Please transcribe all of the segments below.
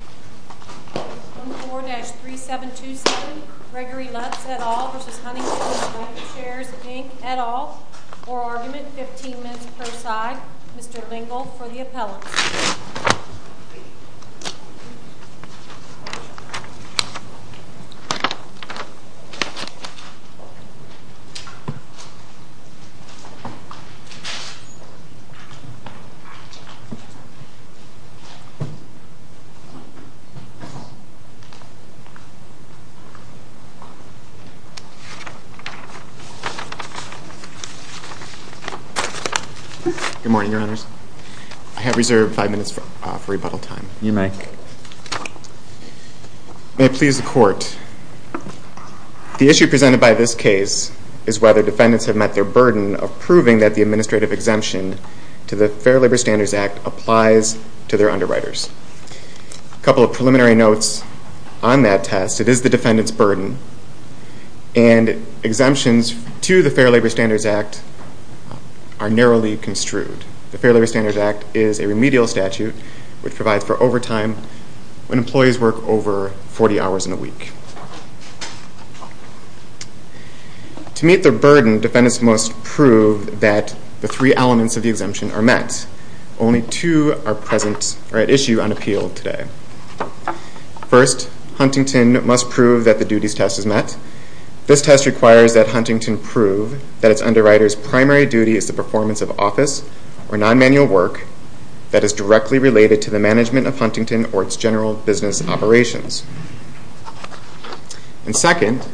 14-3727 Gregory Lutz, et al. v. Huntington Bancshares, Inc., et al. For argument, 15 minutes per side. Mr. Lingle for the appellate. Good morning, Your Honors. I have reserved five minutes for rebuttal time. You may. May it please the Court. The issue presented by this case is whether defendants have met their burden of proving that the administrative exemption to the Fair Labor Standards Act applies to their underwriters. A couple of preliminary notes on that test. It is the defendant's burden, and exemptions to the Fair Labor Standards Act are narrowly construed. The Fair Labor Standards Act is a remedial statute which provides for overtime when employees work over 40 hours in a week. To meet their burden, defendants must prove that the three elements of the exemption are met. Only two are at issue on appeal today. First, Huntington must prove that the duties test is met. This test requires that Huntington prove that its underwriter's primary duty is the performance of office or non-manual work that is directly related to the management of Huntington or its general business operations. And second,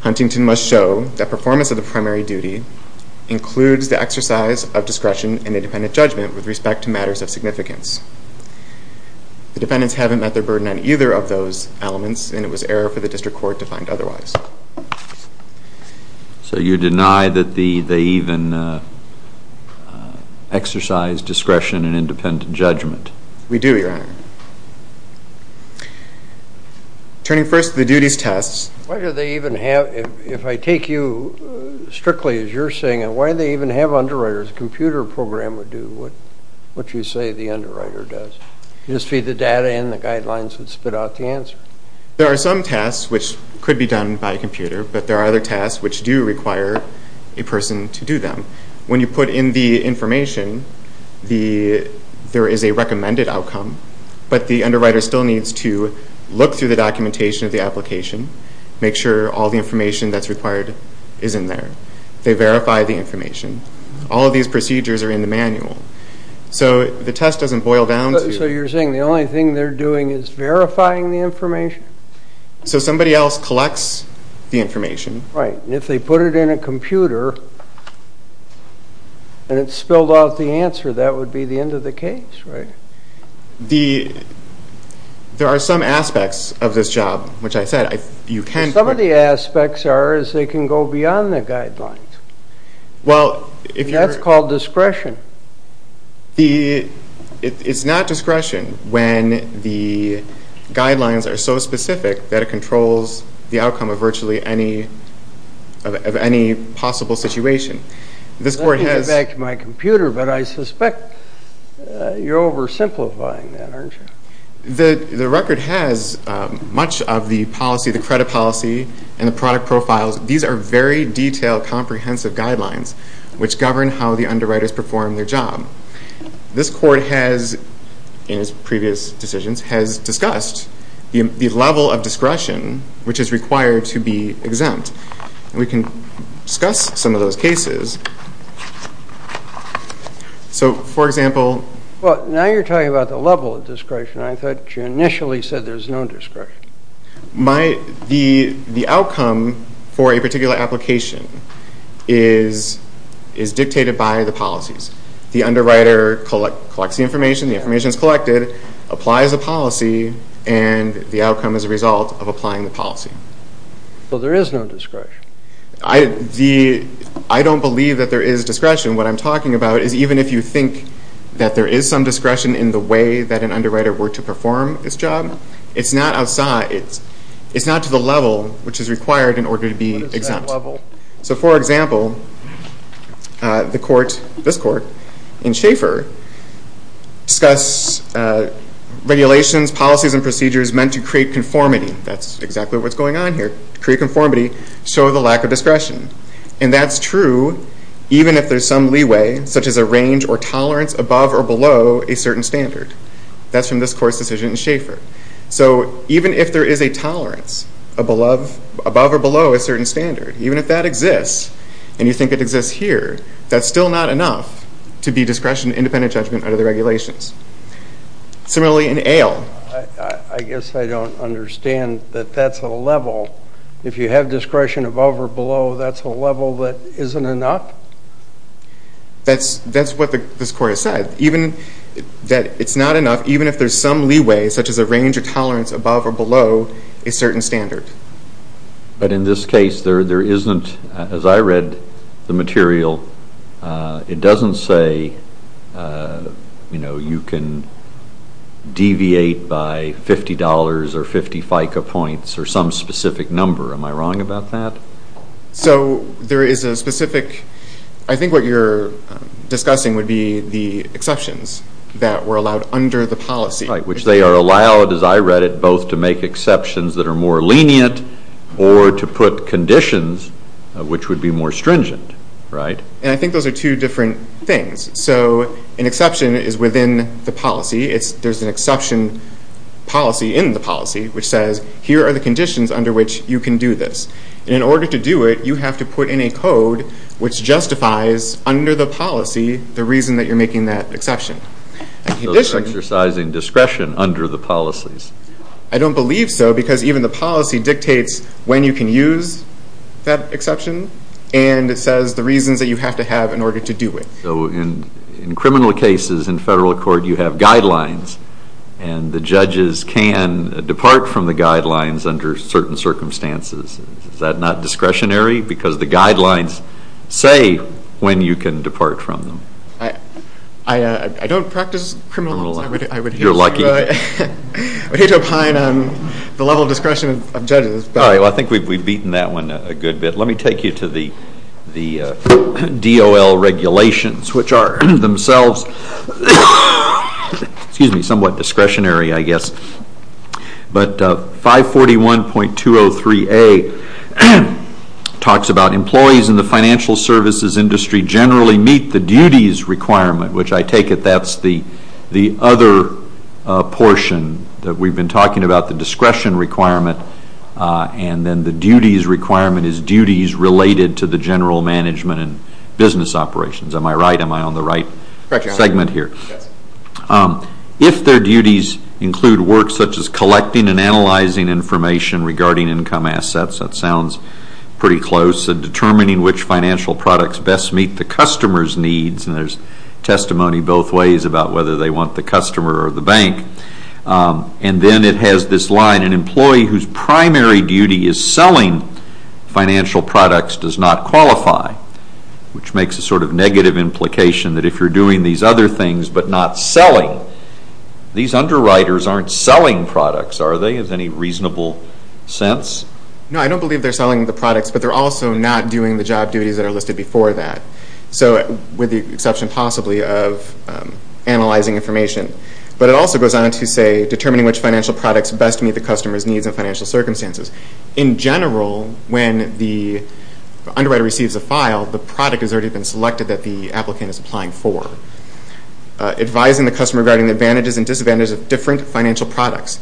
Huntington must show that performance of the primary duty includes the exercise of discretion and independent judgment with respect to matters of significance. The defendants haven't met their burden on either of those elements, and it was error for the district court to find otherwise. So you deny that they even exercise discretion and independent judgment? We do, Your Honor. Turning first to the duties tests. Why do they even have, if I take you strictly as you're saying it, why do they even have underwriters? A computer program would do what you say the underwriter does. You just feed the data in, the guidelines would spit out the answer. There are some tasks which could be done by a computer, but there are other tasks which do require a person to do them. When you put in the information, there is a recommended outcome, but the underwriter still needs to look through the documentation of the application, make sure all the information that's required is in there. They verify the information. All of these procedures are in the manual. So the test doesn't boil down to... So you're saying the only thing they're doing is verifying the information? So somebody else collects the information. Right, and if they put it in a computer and it spilled out the answer, that would be the end of the case, right? There are some aspects of this job, which I said you can... Some of the aspects are they can go beyond the guidelines. Well, if you're... That's called discretion. It's not discretion when the guidelines are so specific that it controls the outcome of virtually any possible situation. Let me get back to my computer, but I suspect you're oversimplifying that, aren't you? The record has much of the policy, the credit policy, and the product profiles. These are very detailed, comprehensive guidelines which govern how the underwriters perform their job. This court has, in its previous decisions, has discussed the level of discretion which is required to be exempt. We can discuss some of those cases. So, for example... Well, now you're talking about the level of discretion. I thought you initially said there's no discretion. The outcome for a particular application is dictated by the policies. The underwriter collects the information, the information is collected, applies a policy, and the outcome is a result of applying the policy. Well, there is no discretion. I don't believe that there is discretion. What I'm talking about is even if you think that there is some discretion in the way that an underwriter were to perform this job, it's not outside, it's not to the level which is required in order to be exempt. What is that level? So, for example, this court in Schaeffer discuss regulations, policies, and procedures meant to create conformity. That's exactly what's going on here. To create conformity, show the lack of discretion. And that's true even if there's some leeway, such as a range or tolerance above or below a certain standard. That's from this court's decision in Schaeffer. So even if there is a tolerance above or below a certain standard, even if that exists and you think it exists here, that's still not enough to be discretion independent judgment under the regulations. Similarly, in Ale. I guess I don't understand that that's a level. If you have discretion above or below, that's a level that isn't enough? That's what this court has said. That it's not enough even if there's some leeway, such as a range or tolerance above or below a certain standard. But in this case, there isn't, as I read the material, it doesn't say you can deviate by $50 or 50 FICA points or some specific number. Am I wrong about that? So there is a specific, I think what you're discussing would be the exceptions that were allowed under the policy. Right, which they are allowed, as I read it, both to make exceptions that are more lenient or to put conditions which would be more stringent, right? And I think those are two different things. So an exception is within the policy. There's an exception policy in the policy which says here are the conditions under which you can do this. And in order to do it, you have to put in a code which justifies under the policy the reason that you're making that exception. So they're exercising discretion under the policies. I don't believe so because even the policy dictates when you can use that exception and it says the reasons that you have to have in order to do it. So in criminal cases in federal court, you have guidelines and the judges can depart from the guidelines under certain circumstances. Is that not discretionary because the guidelines say when you can depart from them? I don't practice criminal law. You're lucky. I hate to opine on the level of discretion of judges. All right, well, I think we've beaten that one a good bit. Let me take you to the DOL regulations, which are themselves somewhat discretionary, I guess. But 541.203A talks about employees in the financial services industry generally meet the duties requirement, which I take it that's the other portion that we've been talking about, the discretion requirement. And then the duties requirement is duties related to the general management and business operations. Am I right? Am I on the right segment here? Yes. If their duties include work such as collecting and analyzing information regarding income assets, that sounds pretty close, and determining which financial products best meet the customer's needs, and there's testimony both ways about whether they want the customer or the bank. And then it has this line, an employee whose primary duty is selling financial products does not qualify, which makes a sort of negative implication that if you're doing these other things but not selling, these underwriters aren't selling products, are they, in any reasonable sense? No, I don't believe they're selling the products, but they're also not doing the job duties that are listed before that, with the exception possibly of analyzing information. But it also goes on to say determining which financial products best meet the customer's needs and financial circumstances. In general, when the underwriter receives a file, the product has already been selected that the applicant is applying for. Advising the customer regarding the advantages and disadvantages of different financial products.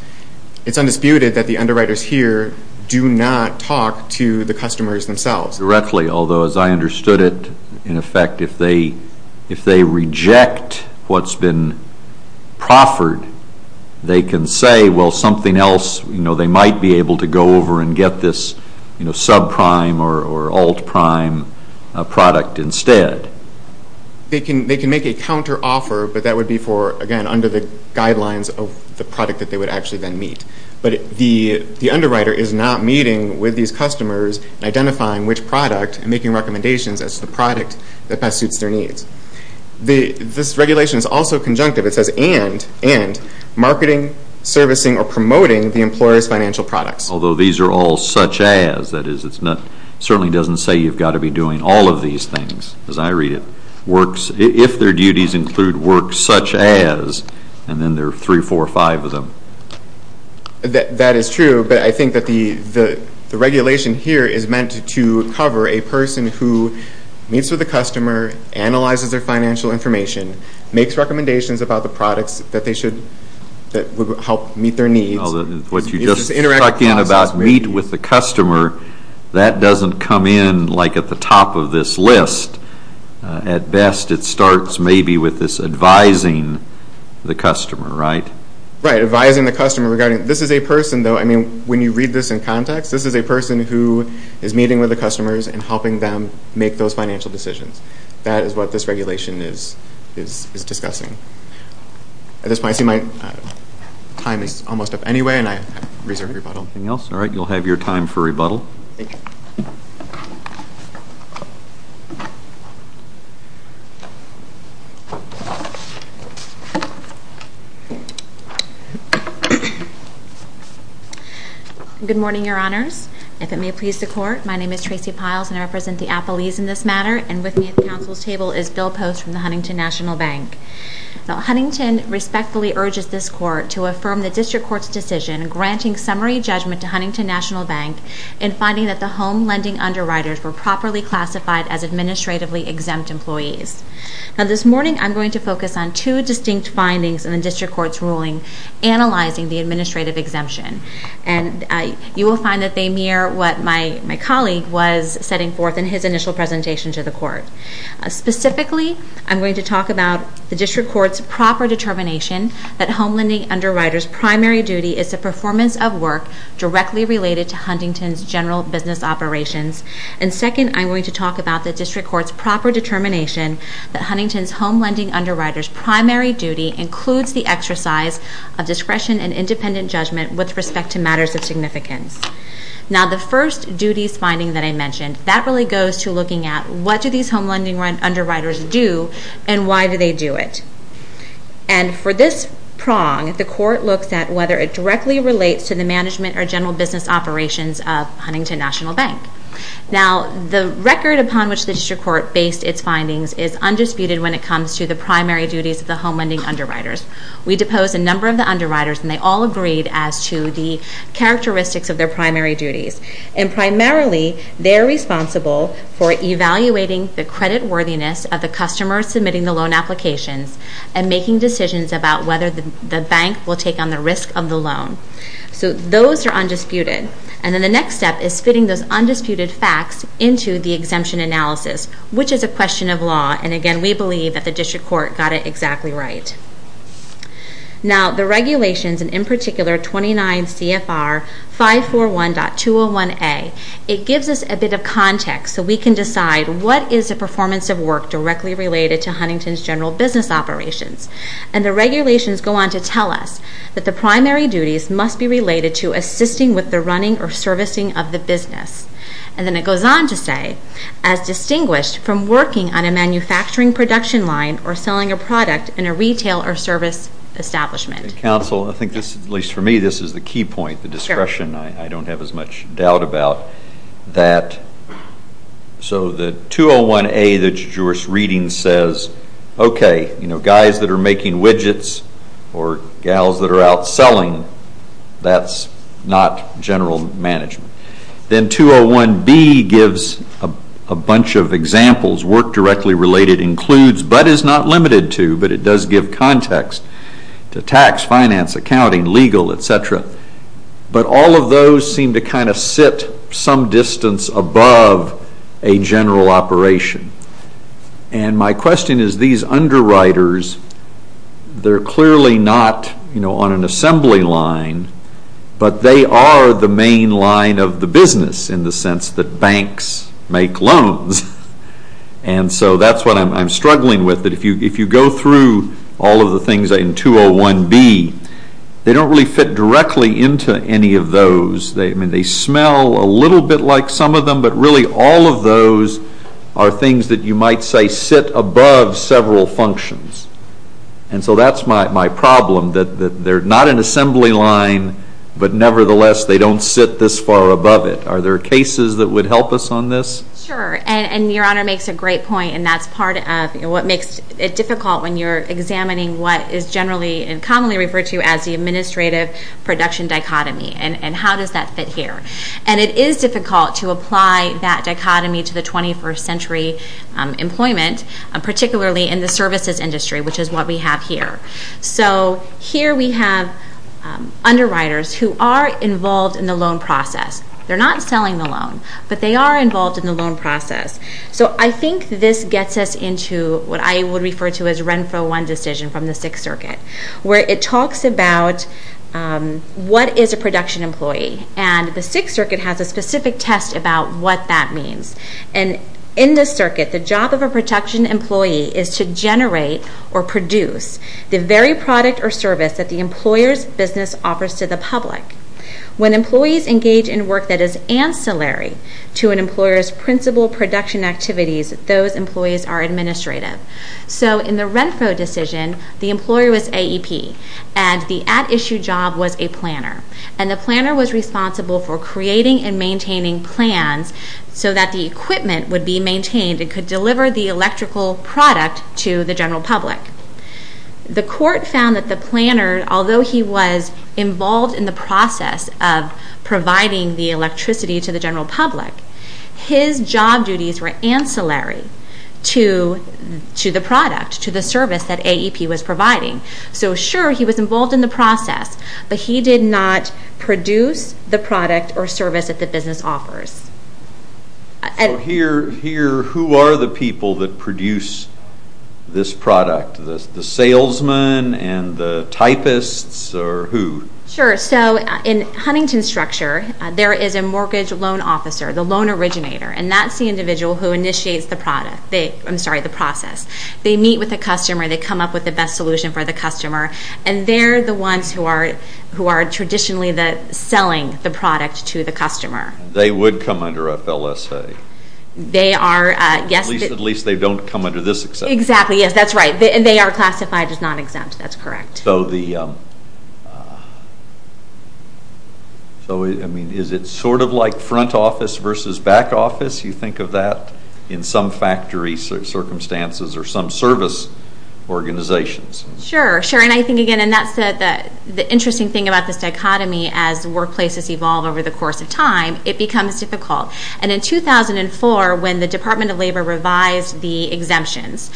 It's undisputed that the underwriters here do not talk to the customers themselves. Indirectly, although as I understood it, in effect, if they reject what's been proffered, they can say, well, something else, they might be able to go over and get this subprime or altprime product instead. They can make a counteroffer, but that would be for, again, under the guidelines of the product that they would actually then meet. But the underwriter is not meeting with these customers and identifying which product and making recommendations as to the product that best suits their needs. This regulation is also conjunctive. It says, and marketing, servicing, or promoting the employer's financial products. Although these are all such as, that is, it certainly doesn't say you've got to be doing all of these things, as I read it. If their duties include work such as, and then there are three, four, five of them. That is true, but I think that the regulation here is meant to cover a person who meets with a customer, analyzes their financial information, makes recommendations about the products that would help meet their needs. What you just struck in about meet with the customer, that doesn't come in like at the top of this list. At best, it starts maybe with this advising the customer, right? Right, advising the customer regarding, this is a person though, I mean, when you read this in context, this is a person who is meeting with the customers and helping them make those financial decisions. That is what this regulation is discussing. At this point, I see my time is almost up anyway, and I reserve rebuttal. Anything else? All right, you'll have your time for rebuttal. Thank you. Good morning, Your Honors. If it may please the Court, my name is Tracy Piles, and I represent the appellees in this matter, and with me at the Council's table is Bill Post from the Huntington National Bank. Now, Huntington respectfully urges this Court to affirm the District Court's decision granting summary judgment to Huntington National Bank in finding that the home lending underwriters were properly classified as administratively exempt employees. Now, this morning, I'm going to focus on two distinct findings in the District Court's ruling analyzing the administrative exemption, and you will find that they mirror what my colleague was setting forth in his initial presentation to the Court. Specifically, I'm going to talk about the District Court's proper determination that home lending underwriters' primary duty is the performance of work directly related to Huntington's general business operations, and second, I'm going to talk about the District Court's proper determination that Huntington's home lending underwriters' primary duty includes the exercise of discretion and independent judgment with respect to matters of significance. Now, the first duties finding that I mentioned, that really goes to looking at what do these home lending underwriters do, and why do they do it? And for this prong, the Court looks at whether it directly relates to the management or general business operations of Huntington National Bank. Now, the record upon which the District Court based its findings is undisputed when it comes to the primary duties of the home lending underwriters. We deposed a number of the underwriters, and they all agreed as to the characteristics of their primary duties, and primarily, they're responsible for evaluating the creditworthiness of the customer submitting the loan applications and making decisions about whether the bank will take on the risk of the loan. So those are undisputed. And then the next step is fitting those undisputed facts into the exemption analysis, which is a question of law, and again, we believe that the District Court got it exactly right. Now, the regulations, and in particular, 29 CFR 541.201A, it gives us a bit of context so we can decide what is the performance of work directly related to Huntington's general business operations. And the regulations go on to tell us that the primary duties must be related to assisting with the running or servicing of the business. And then it goes on to say, as distinguished from working on a manufacturing production line or selling a product in a retail or service establishment. Counsel, I think this, at least for me, this is the key point, the discretion I don't have as much doubt about, that so the 201A that you're reading says, okay, you know, guys that are making widgets or gals that are out selling, that's not general management. Then 201B gives a bunch of examples, work directly related includes, but is not limited to, but it does give context to tax, finance, accounting, legal, etc. But all of those seem to kind of sit some distance above a general operation. And my question is, these underwriters, they're clearly not, you know, on an assembly line, but they are the main line of the business in the sense that banks make loans. And so that's what I'm struggling with, that if you go through all of the things in 201B, they don't really fit directly into any of those. I mean, they smell a little bit like some of them, but really all of those are things that you might say sit above several functions. And so that's my problem, that they're not an assembly line, but nevertheless they don't sit this far above it. Are there cases that would help us on this? Sure. And Your Honor makes a great point, and that's part of what makes it difficult when you're examining what is generally and commonly referred to as the administrative production dichotomy, and how does that fit here. And it is difficult to apply that dichotomy to the 21st century employment, particularly in the services industry, which is what we have here. So here we have underwriters who are involved in the loan process. They're not selling the loan, but they are involved in the loan process. So I think this gets us into what I would refer to as Renfro I decision from the Sixth Circuit, where it talks about what is a production employee, and the Sixth Circuit has a specific test about what that means. And in the circuit, the job of a production employee is to generate or produce the very product or service that the employer's business offers to the public. When employees engage in work that is ancillary to an employer's principal production activities, those employees are administrative. So in the Renfro decision, the employer was AEP, and the at-issue job was a planner. And the planner was responsible for creating and maintaining plans so that the equipment would be maintained and could deliver the electrical product to the general public. The court found that the planner, although he was involved in the process of providing the electricity to the general public, his job duties were ancillary to the product, to the service that AEP was providing. So sure, he was involved in the process, but he did not produce the product or service that the business offers. So here, who are the people that produce this product? The salesmen and the typists, or who? Sure. So in Huntington's structure, there is a mortgage loan officer, the loan originator, and that's the individual who initiates the process. They meet with the customer, they come up with the best solution for the customer, and they're the ones who are traditionally selling the product to the customer. They would come under FLSA. They are, yes. At least they don't come under this exemption. Exactly, yes, that's right. And they are classified as non-exempt. That's correct. So is it sort of like front office versus back office, you think of that, in some factory circumstances or some service organizations? Sure, sure. And I think, again, and that's the interesting thing about this dichotomy, as workplaces evolve over the course of time, it becomes difficult. And in 2004, when the Department of Labor revised the exemptions,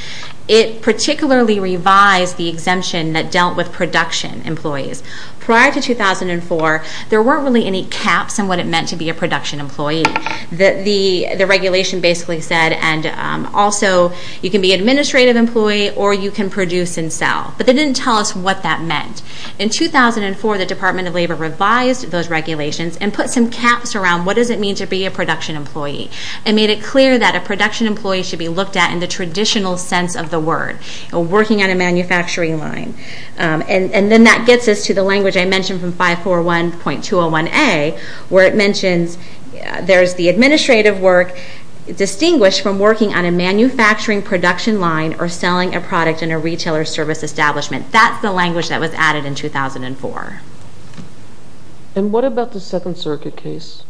it particularly revised the exemption that dealt with production employees. Prior to 2004, there weren't really any caps on what it meant to be a production employee. The regulation basically said, and also, you can be an administrative employee or you can produce and sell. But they didn't tell us what that meant. In 2004, the Department of Labor revised those regulations and put some caps around what does it mean to be a production employee and made it clear that a production employee should be looked at in the traditional sense of the word, working on a manufacturing line. And then that gets us to the language I mentioned from 541.201A, where it mentions there's the administrative work distinguished from working on a manufacturing production line or selling a product in a retailer service establishment. That's the language that was added in 2004. And what about the Second Circuit case?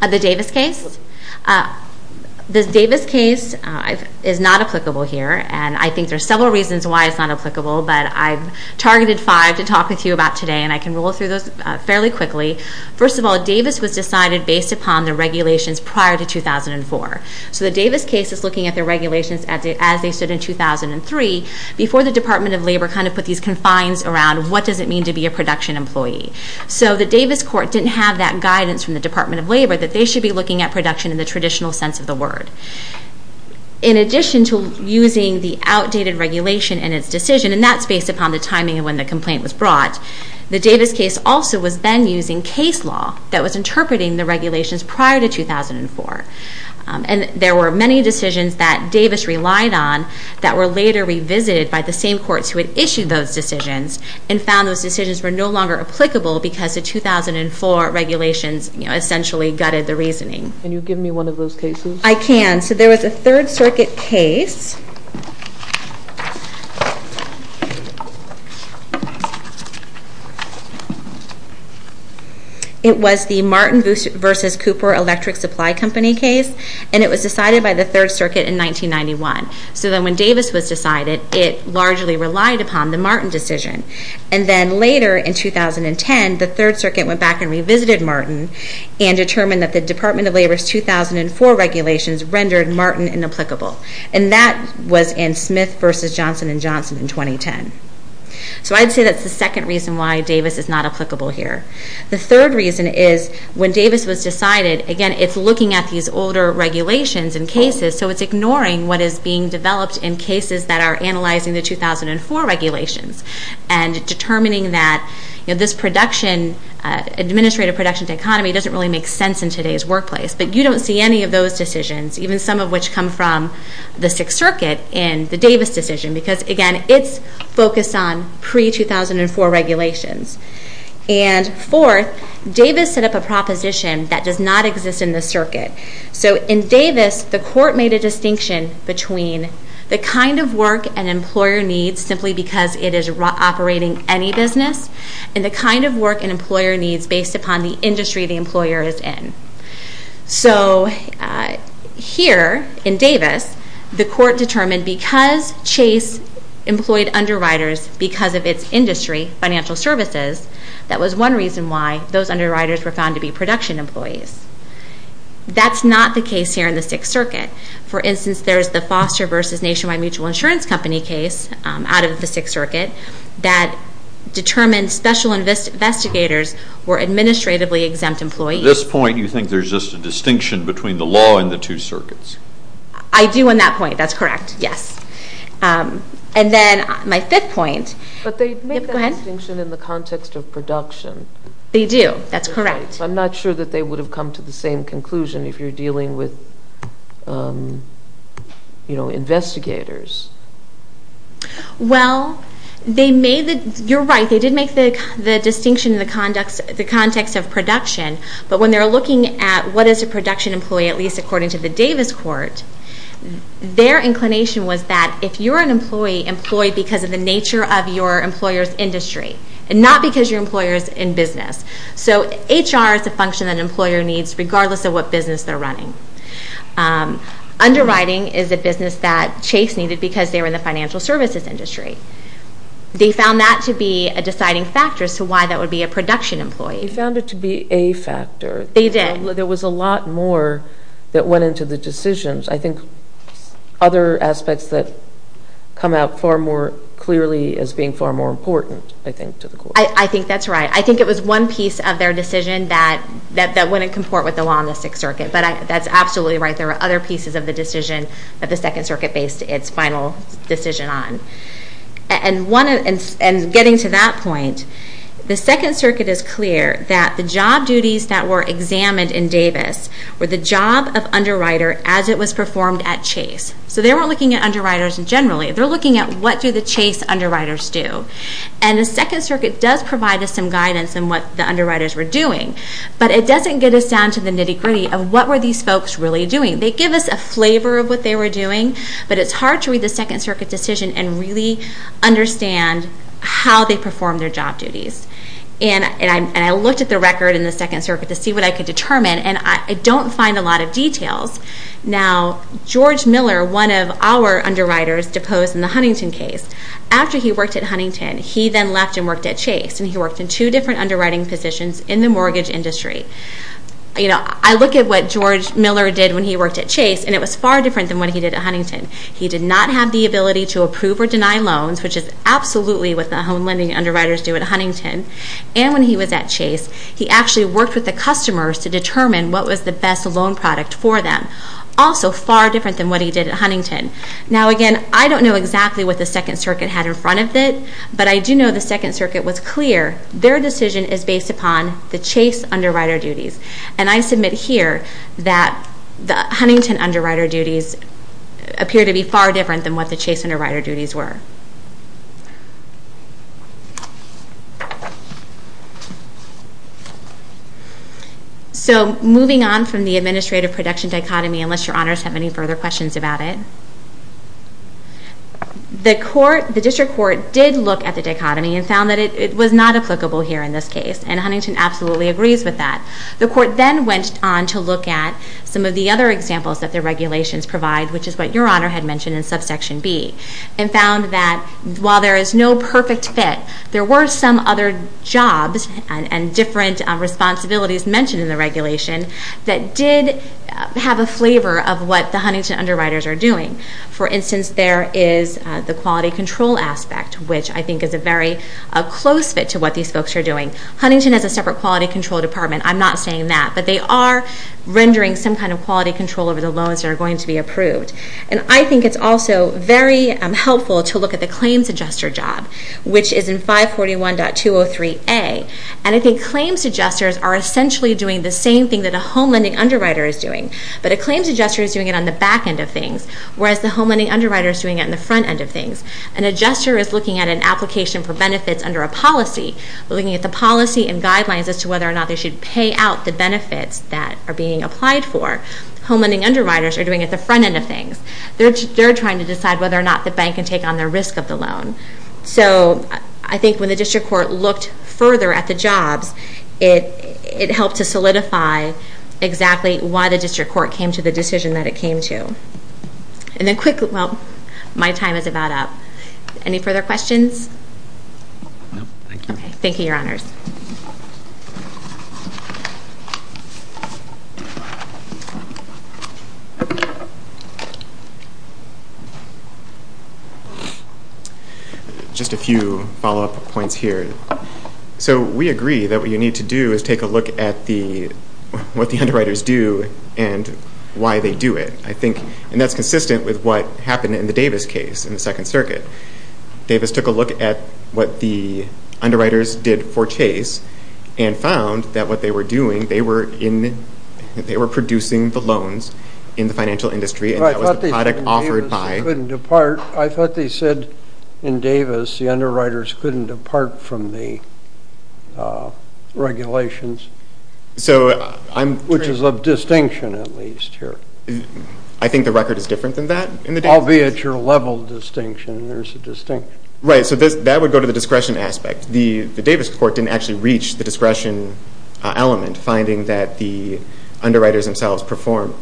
The Davis case? The Davis case is not applicable here, and I think there are several reasons why it's not applicable, but I've targeted five to talk with you about today, and I can roll through those fairly quickly. First of all, Davis was decided based upon the regulations prior to 2004. So the Davis case is looking at the regulations as they stood in 2003, before the Department of Labor kind of put these confines around what does it mean to be a production employee. So the Davis court didn't have that guidance from the Department of Labor that they should be looking at production in the traditional sense of the word. In addition to using the outdated regulation in its decision, and that's based upon the timing of when the complaint was brought, the Davis case also was then using case law that was interpreting the regulations prior to 2004. And there were many decisions that Davis relied on that were later revisited by the same courts who had issued those decisions and found those decisions were no longer applicable because the 2004 regulations essentially gutted the reasoning. Can you give me one of those cases? I can. So there was a Third Circuit case. It was the Martin v. Cooper Electric Supply Company case, and it was decided by the Third Circuit in 1991. So then when Davis was decided, it largely relied upon the Martin decision. And then later in 2010, the Third Circuit went back and revisited Martin and determined that the Department of Labor's 2004 regulations rendered Martin inapplicable. And that was in Smith v. Johnson & Johnson in 2010. So I'd say that's the second reason why Davis is not applicable here. The third reason is when Davis was decided, again, it's looking at these older regulations and cases, so it's ignoring what is being developed in cases that are analyzing the 2004 regulations and determining that this administrative production to economy doesn't really make sense in today's workplace. But you don't see any of those decisions, even some of which come from the Sixth Circuit in the Davis decision because, again, it's focused on pre-2004 regulations. And fourth, Davis set up a proposition that does not exist in the circuit. So in Davis, the court made a distinction between the kind of work an employer needs simply because it is operating any business and the kind of work an employer needs based upon the industry the employer is in. So here in Davis, the court determined because Chase employed underwriters because of its industry, financial services, that was one reason why those underwriters were found to be production employees. That's not the case here in the Sixth Circuit. For instance, there is the Foster v. Nationwide Mutual Insurance Company case out of the Sixth Circuit that determined special investigators were administratively exempt employees. At this point, you think there's just a distinction between the law and the two circuits? I do on that point. That's correct, yes. And then my fifth point. But they make that distinction in the context of production. They do. That's correct. I'm not sure that they would have come to the same conclusion if you're dealing with investigators. Well, you're right. They did make the distinction in the context of production. But when they were looking at what is a production employee, at least according to the Davis court, their inclination was that if you're an employee, employ because of the nature of your employer's industry and not because your employer is in business. So HR is a function that an employer needs regardless of what business they're running. Underwriting is a business that Chase needed because they were in the financial services industry. They found that to be a deciding factor as to why that would be a production employee. They found it to be a factor. They did. There was a lot more that went into the decisions. I think other aspects that come out far more clearly as being far more important, I think, to the court. I think that's right. I think it was one piece of their decision that wouldn't comport with the law in the Sixth Circuit. But that's absolutely right. There were other pieces of the decision that the Second Circuit based its final decision on. And getting to that point, the Second Circuit is clear that the job duties that were examined in Davis were the job of underwriter as it was performed at Chase. So they weren't looking at underwriters generally. They're looking at what do the Chase underwriters do. And the Second Circuit does provide us some guidance on what the underwriters were doing. But it doesn't get us down to the nitty-gritty of what were these folks really doing. They give us a flavor of what they were doing, but it's hard to read the Second Circuit decision and really understand how they performed their job duties. And I looked at the record in the Second Circuit to see what I could determine, and I don't find a lot of details. Now, George Miller, one of our underwriters, deposed in the Huntington case. After he worked at Huntington, he then left and worked at Chase, and he worked in two different underwriting positions in the mortgage industry. I look at what George Miller did when he worked at Chase, and it was far different than what he did at Huntington. He did not have the ability to approve or deny loans, which is absolutely what the home lending underwriters do at Huntington. And when he was at Chase, he actually worked with the customers to determine what was the best loan product for them, also far different than what he did at Huntington. Now, again, I don't know exactly what the Second Circuit had in front of it, but I do know the Second Circuit was clear. Their decision is based upon the Chase underwriter duties. And I submit here that the Huntington underwriter duties appear to be far different than what the Chase underwriter duties were. So moving on from the administrative production dichotomy, unless Your Honors have any further questions about it. The District Court did look at the dichotomy and found that it was not applicable here in this case, and Huntington absolutely agrees with that. The Court then went on to look at some of the other examples that the regulations provide, which is what Your Honor had mentioned in subsection B, and found that while there is no perfect fit, there were some other jobs and different responsibilities mentioned in the regulation that did have a flavor of what the Huntington underwriters are doing. For instance, there is the quality control aspect, which I think is a very close fit to what these folks are doing. Huntington has a separate quality control department. I'm not saying that. But they are rendering some kind of quality control over the loans that are going to be approved. And I think it's also very helpful to look at the claims adjuster job, which is in 541.203A. And I think claims adjusters are essentially doing the same thing that a home lending underwriter is doing, but a claims adjuster is doing it on the back end of things, whereas the home lending underwriter is doing it on the front end of things. An adjuster is looking at an application for benefits under a policy, looking at the policy and guidelines as to whether or not they should pay out the benefits that are being applied for. Home lending underwriters are doing it at the front end of things. They're trying to decide whether or not the bank can take on the risk of the loan. So I think when the district court looked further at the jobs, it helped to solidify exactly why the district court came to the decision that it came to. And then quickly, well, my time is about up. Any further questions? No, thank you. Thank you, Your Honors. Just a few follow-up points here. So we agree that what you need to do is take a look at what the underwriters do and why they do it. And that's consistent with what happened in the Davis case in the Second Circuit. Davis took a look at what the underwriters did for Chase and found that what they were doing, they were producing the loans in the financial industry, and that was the product offered by— In Davis, the underwriters couldn't depart from the regulations, which is of distinction at least here. I think the record is different than that in the Davis case. I'll be at your level of distinction, and there's a distinction. Right, so that would go to the discretion aspect. The Davis court didn't actually reach the discretion element, finding that the underwriters themselves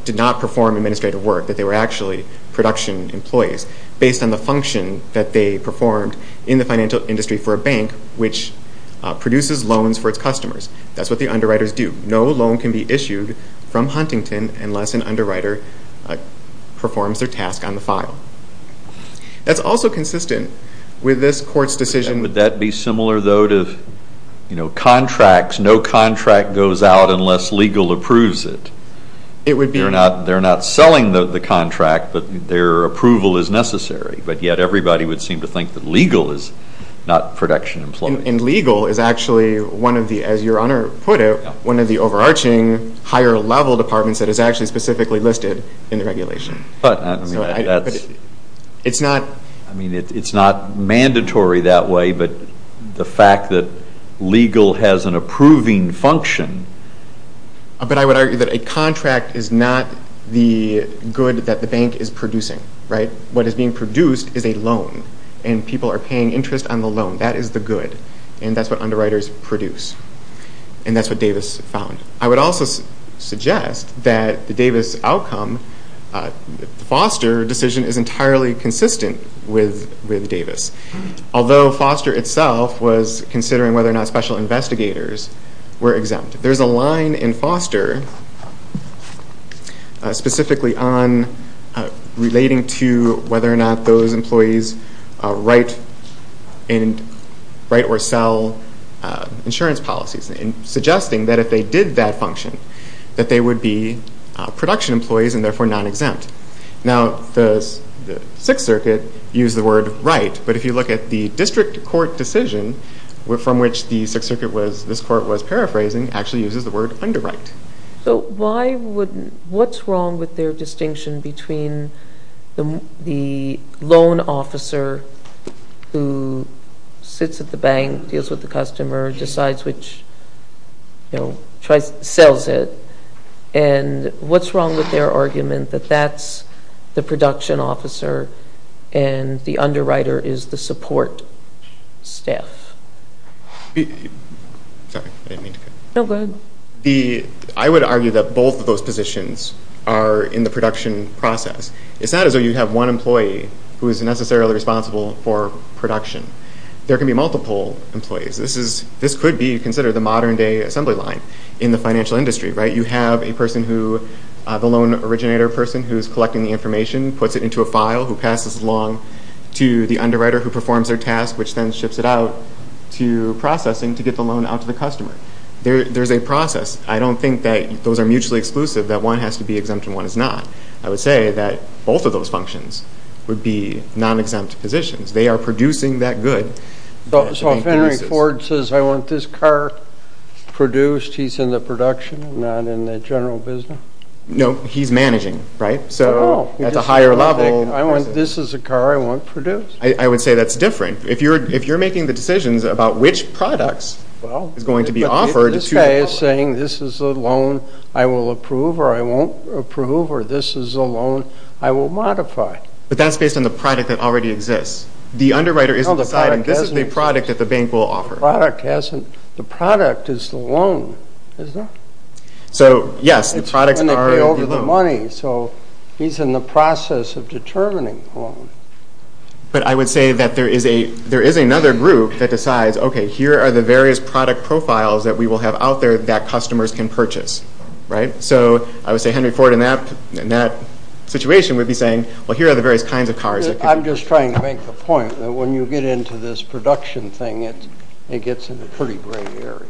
did not perform administrative work, that they were actually production employees. Based on the function that they performed in the financial industry for a bank, which produces loans for its customers. That's what the underwriters do. No loan can be issued from Huntington unless an underwriter performs their task on the file. That's also consistent with this court's decision— Would that be similar, though, to contracts? No contract goes out unless legal approves it. It would be— They're not selling the contract, but their approval is necessary, but yet everybody would seem to think that legal is not production employees. And legal is actually, as Your Honor put it, one of the overarching higher-level departments that is actually specifically listed in the regulation. But, I mean, that's— It's not— I mean, it's not mandatory that way, but the fact that legal has an approving function— But I would argue that a contract is not the good that the bank is producing, right? What is being produced is a loan, and people are paying interest on the loan. That is the good, and that's what underwriters produce. And that's what Davis found. I would also suggest that the Davis outcome— The Foster decision is entirely consistent with Davis, although Foster itself was considering whether or not special investigators were exempt. There's a line in Foster specifically on— relating to whether or not those employees write or sell insurance policies, and suggesting that if they did that function, that they would be production employees and therefore non-exempt. Now, the Sixth Circuit used the word right, but if you look at the district court decision from which the Sixth Circuit was— actually uses the word underwrite. So why would— What's wrong with their distinction between the loan officer who sits at the bank, deals with the customer, decides which— you know, tries—sells it, and what's wrong with their argument that that's the production officer and the underwriter is the support staff? Sorry, I didn't mean to cut you off. No, go ahead. I would argue that both of those positions are in the production process. It's not as though you have one employee who is necessarily responsible for production. There can be multiple employees. This could be considered the modern-day assembly line in the financial industry, right? You have a person who—the loan originator person who is collecting the information, puts it into a file, who passes it along to the underwriter who performs their task, which then ships it out to processing to get the loan out to the customer. There's a process. I don't think that those are mutually exclusive, that one has to be exempt and one is not. I would say that both of those functions would be non-exempt positions. They are producing that good. So if Henry Ford says, I want this car produced, he's in the production, not in the general business? No, he's managing, right? Oh. So that's a higher level— I want—this is a car I want produced. I would say that's different. If you're making the decisions about which products is going to be offered— Well, this guy is saying this is a loan I will approve or I won't approve or this is a loan I will modify. But that's based on the product that already exists. The underwriter isn't deciding this is the product that the bank will offer. The product isn't—the product is the loan, is it? So, yes, the products are the loan. It's going to be over the money, so he's in the process of determining the loan. But I would say that there is another group that decides, okay, here are the various product profiles that we will have out there that customers can purchase, right? So I would say Henry Ford in that situation would be saying, well, here are the various kinds of cars that could— I'm just trying to make the point that when you get into this production thing, it gets in a pretty gray area.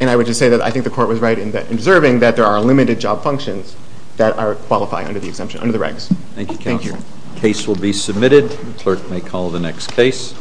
And I would just say that I think the Court was right in observing that there are limited job functions that are qualifying under the exemption, under the regs. Thank you, counsel. Thank you. The case will be submitted. The clerk may call the next case.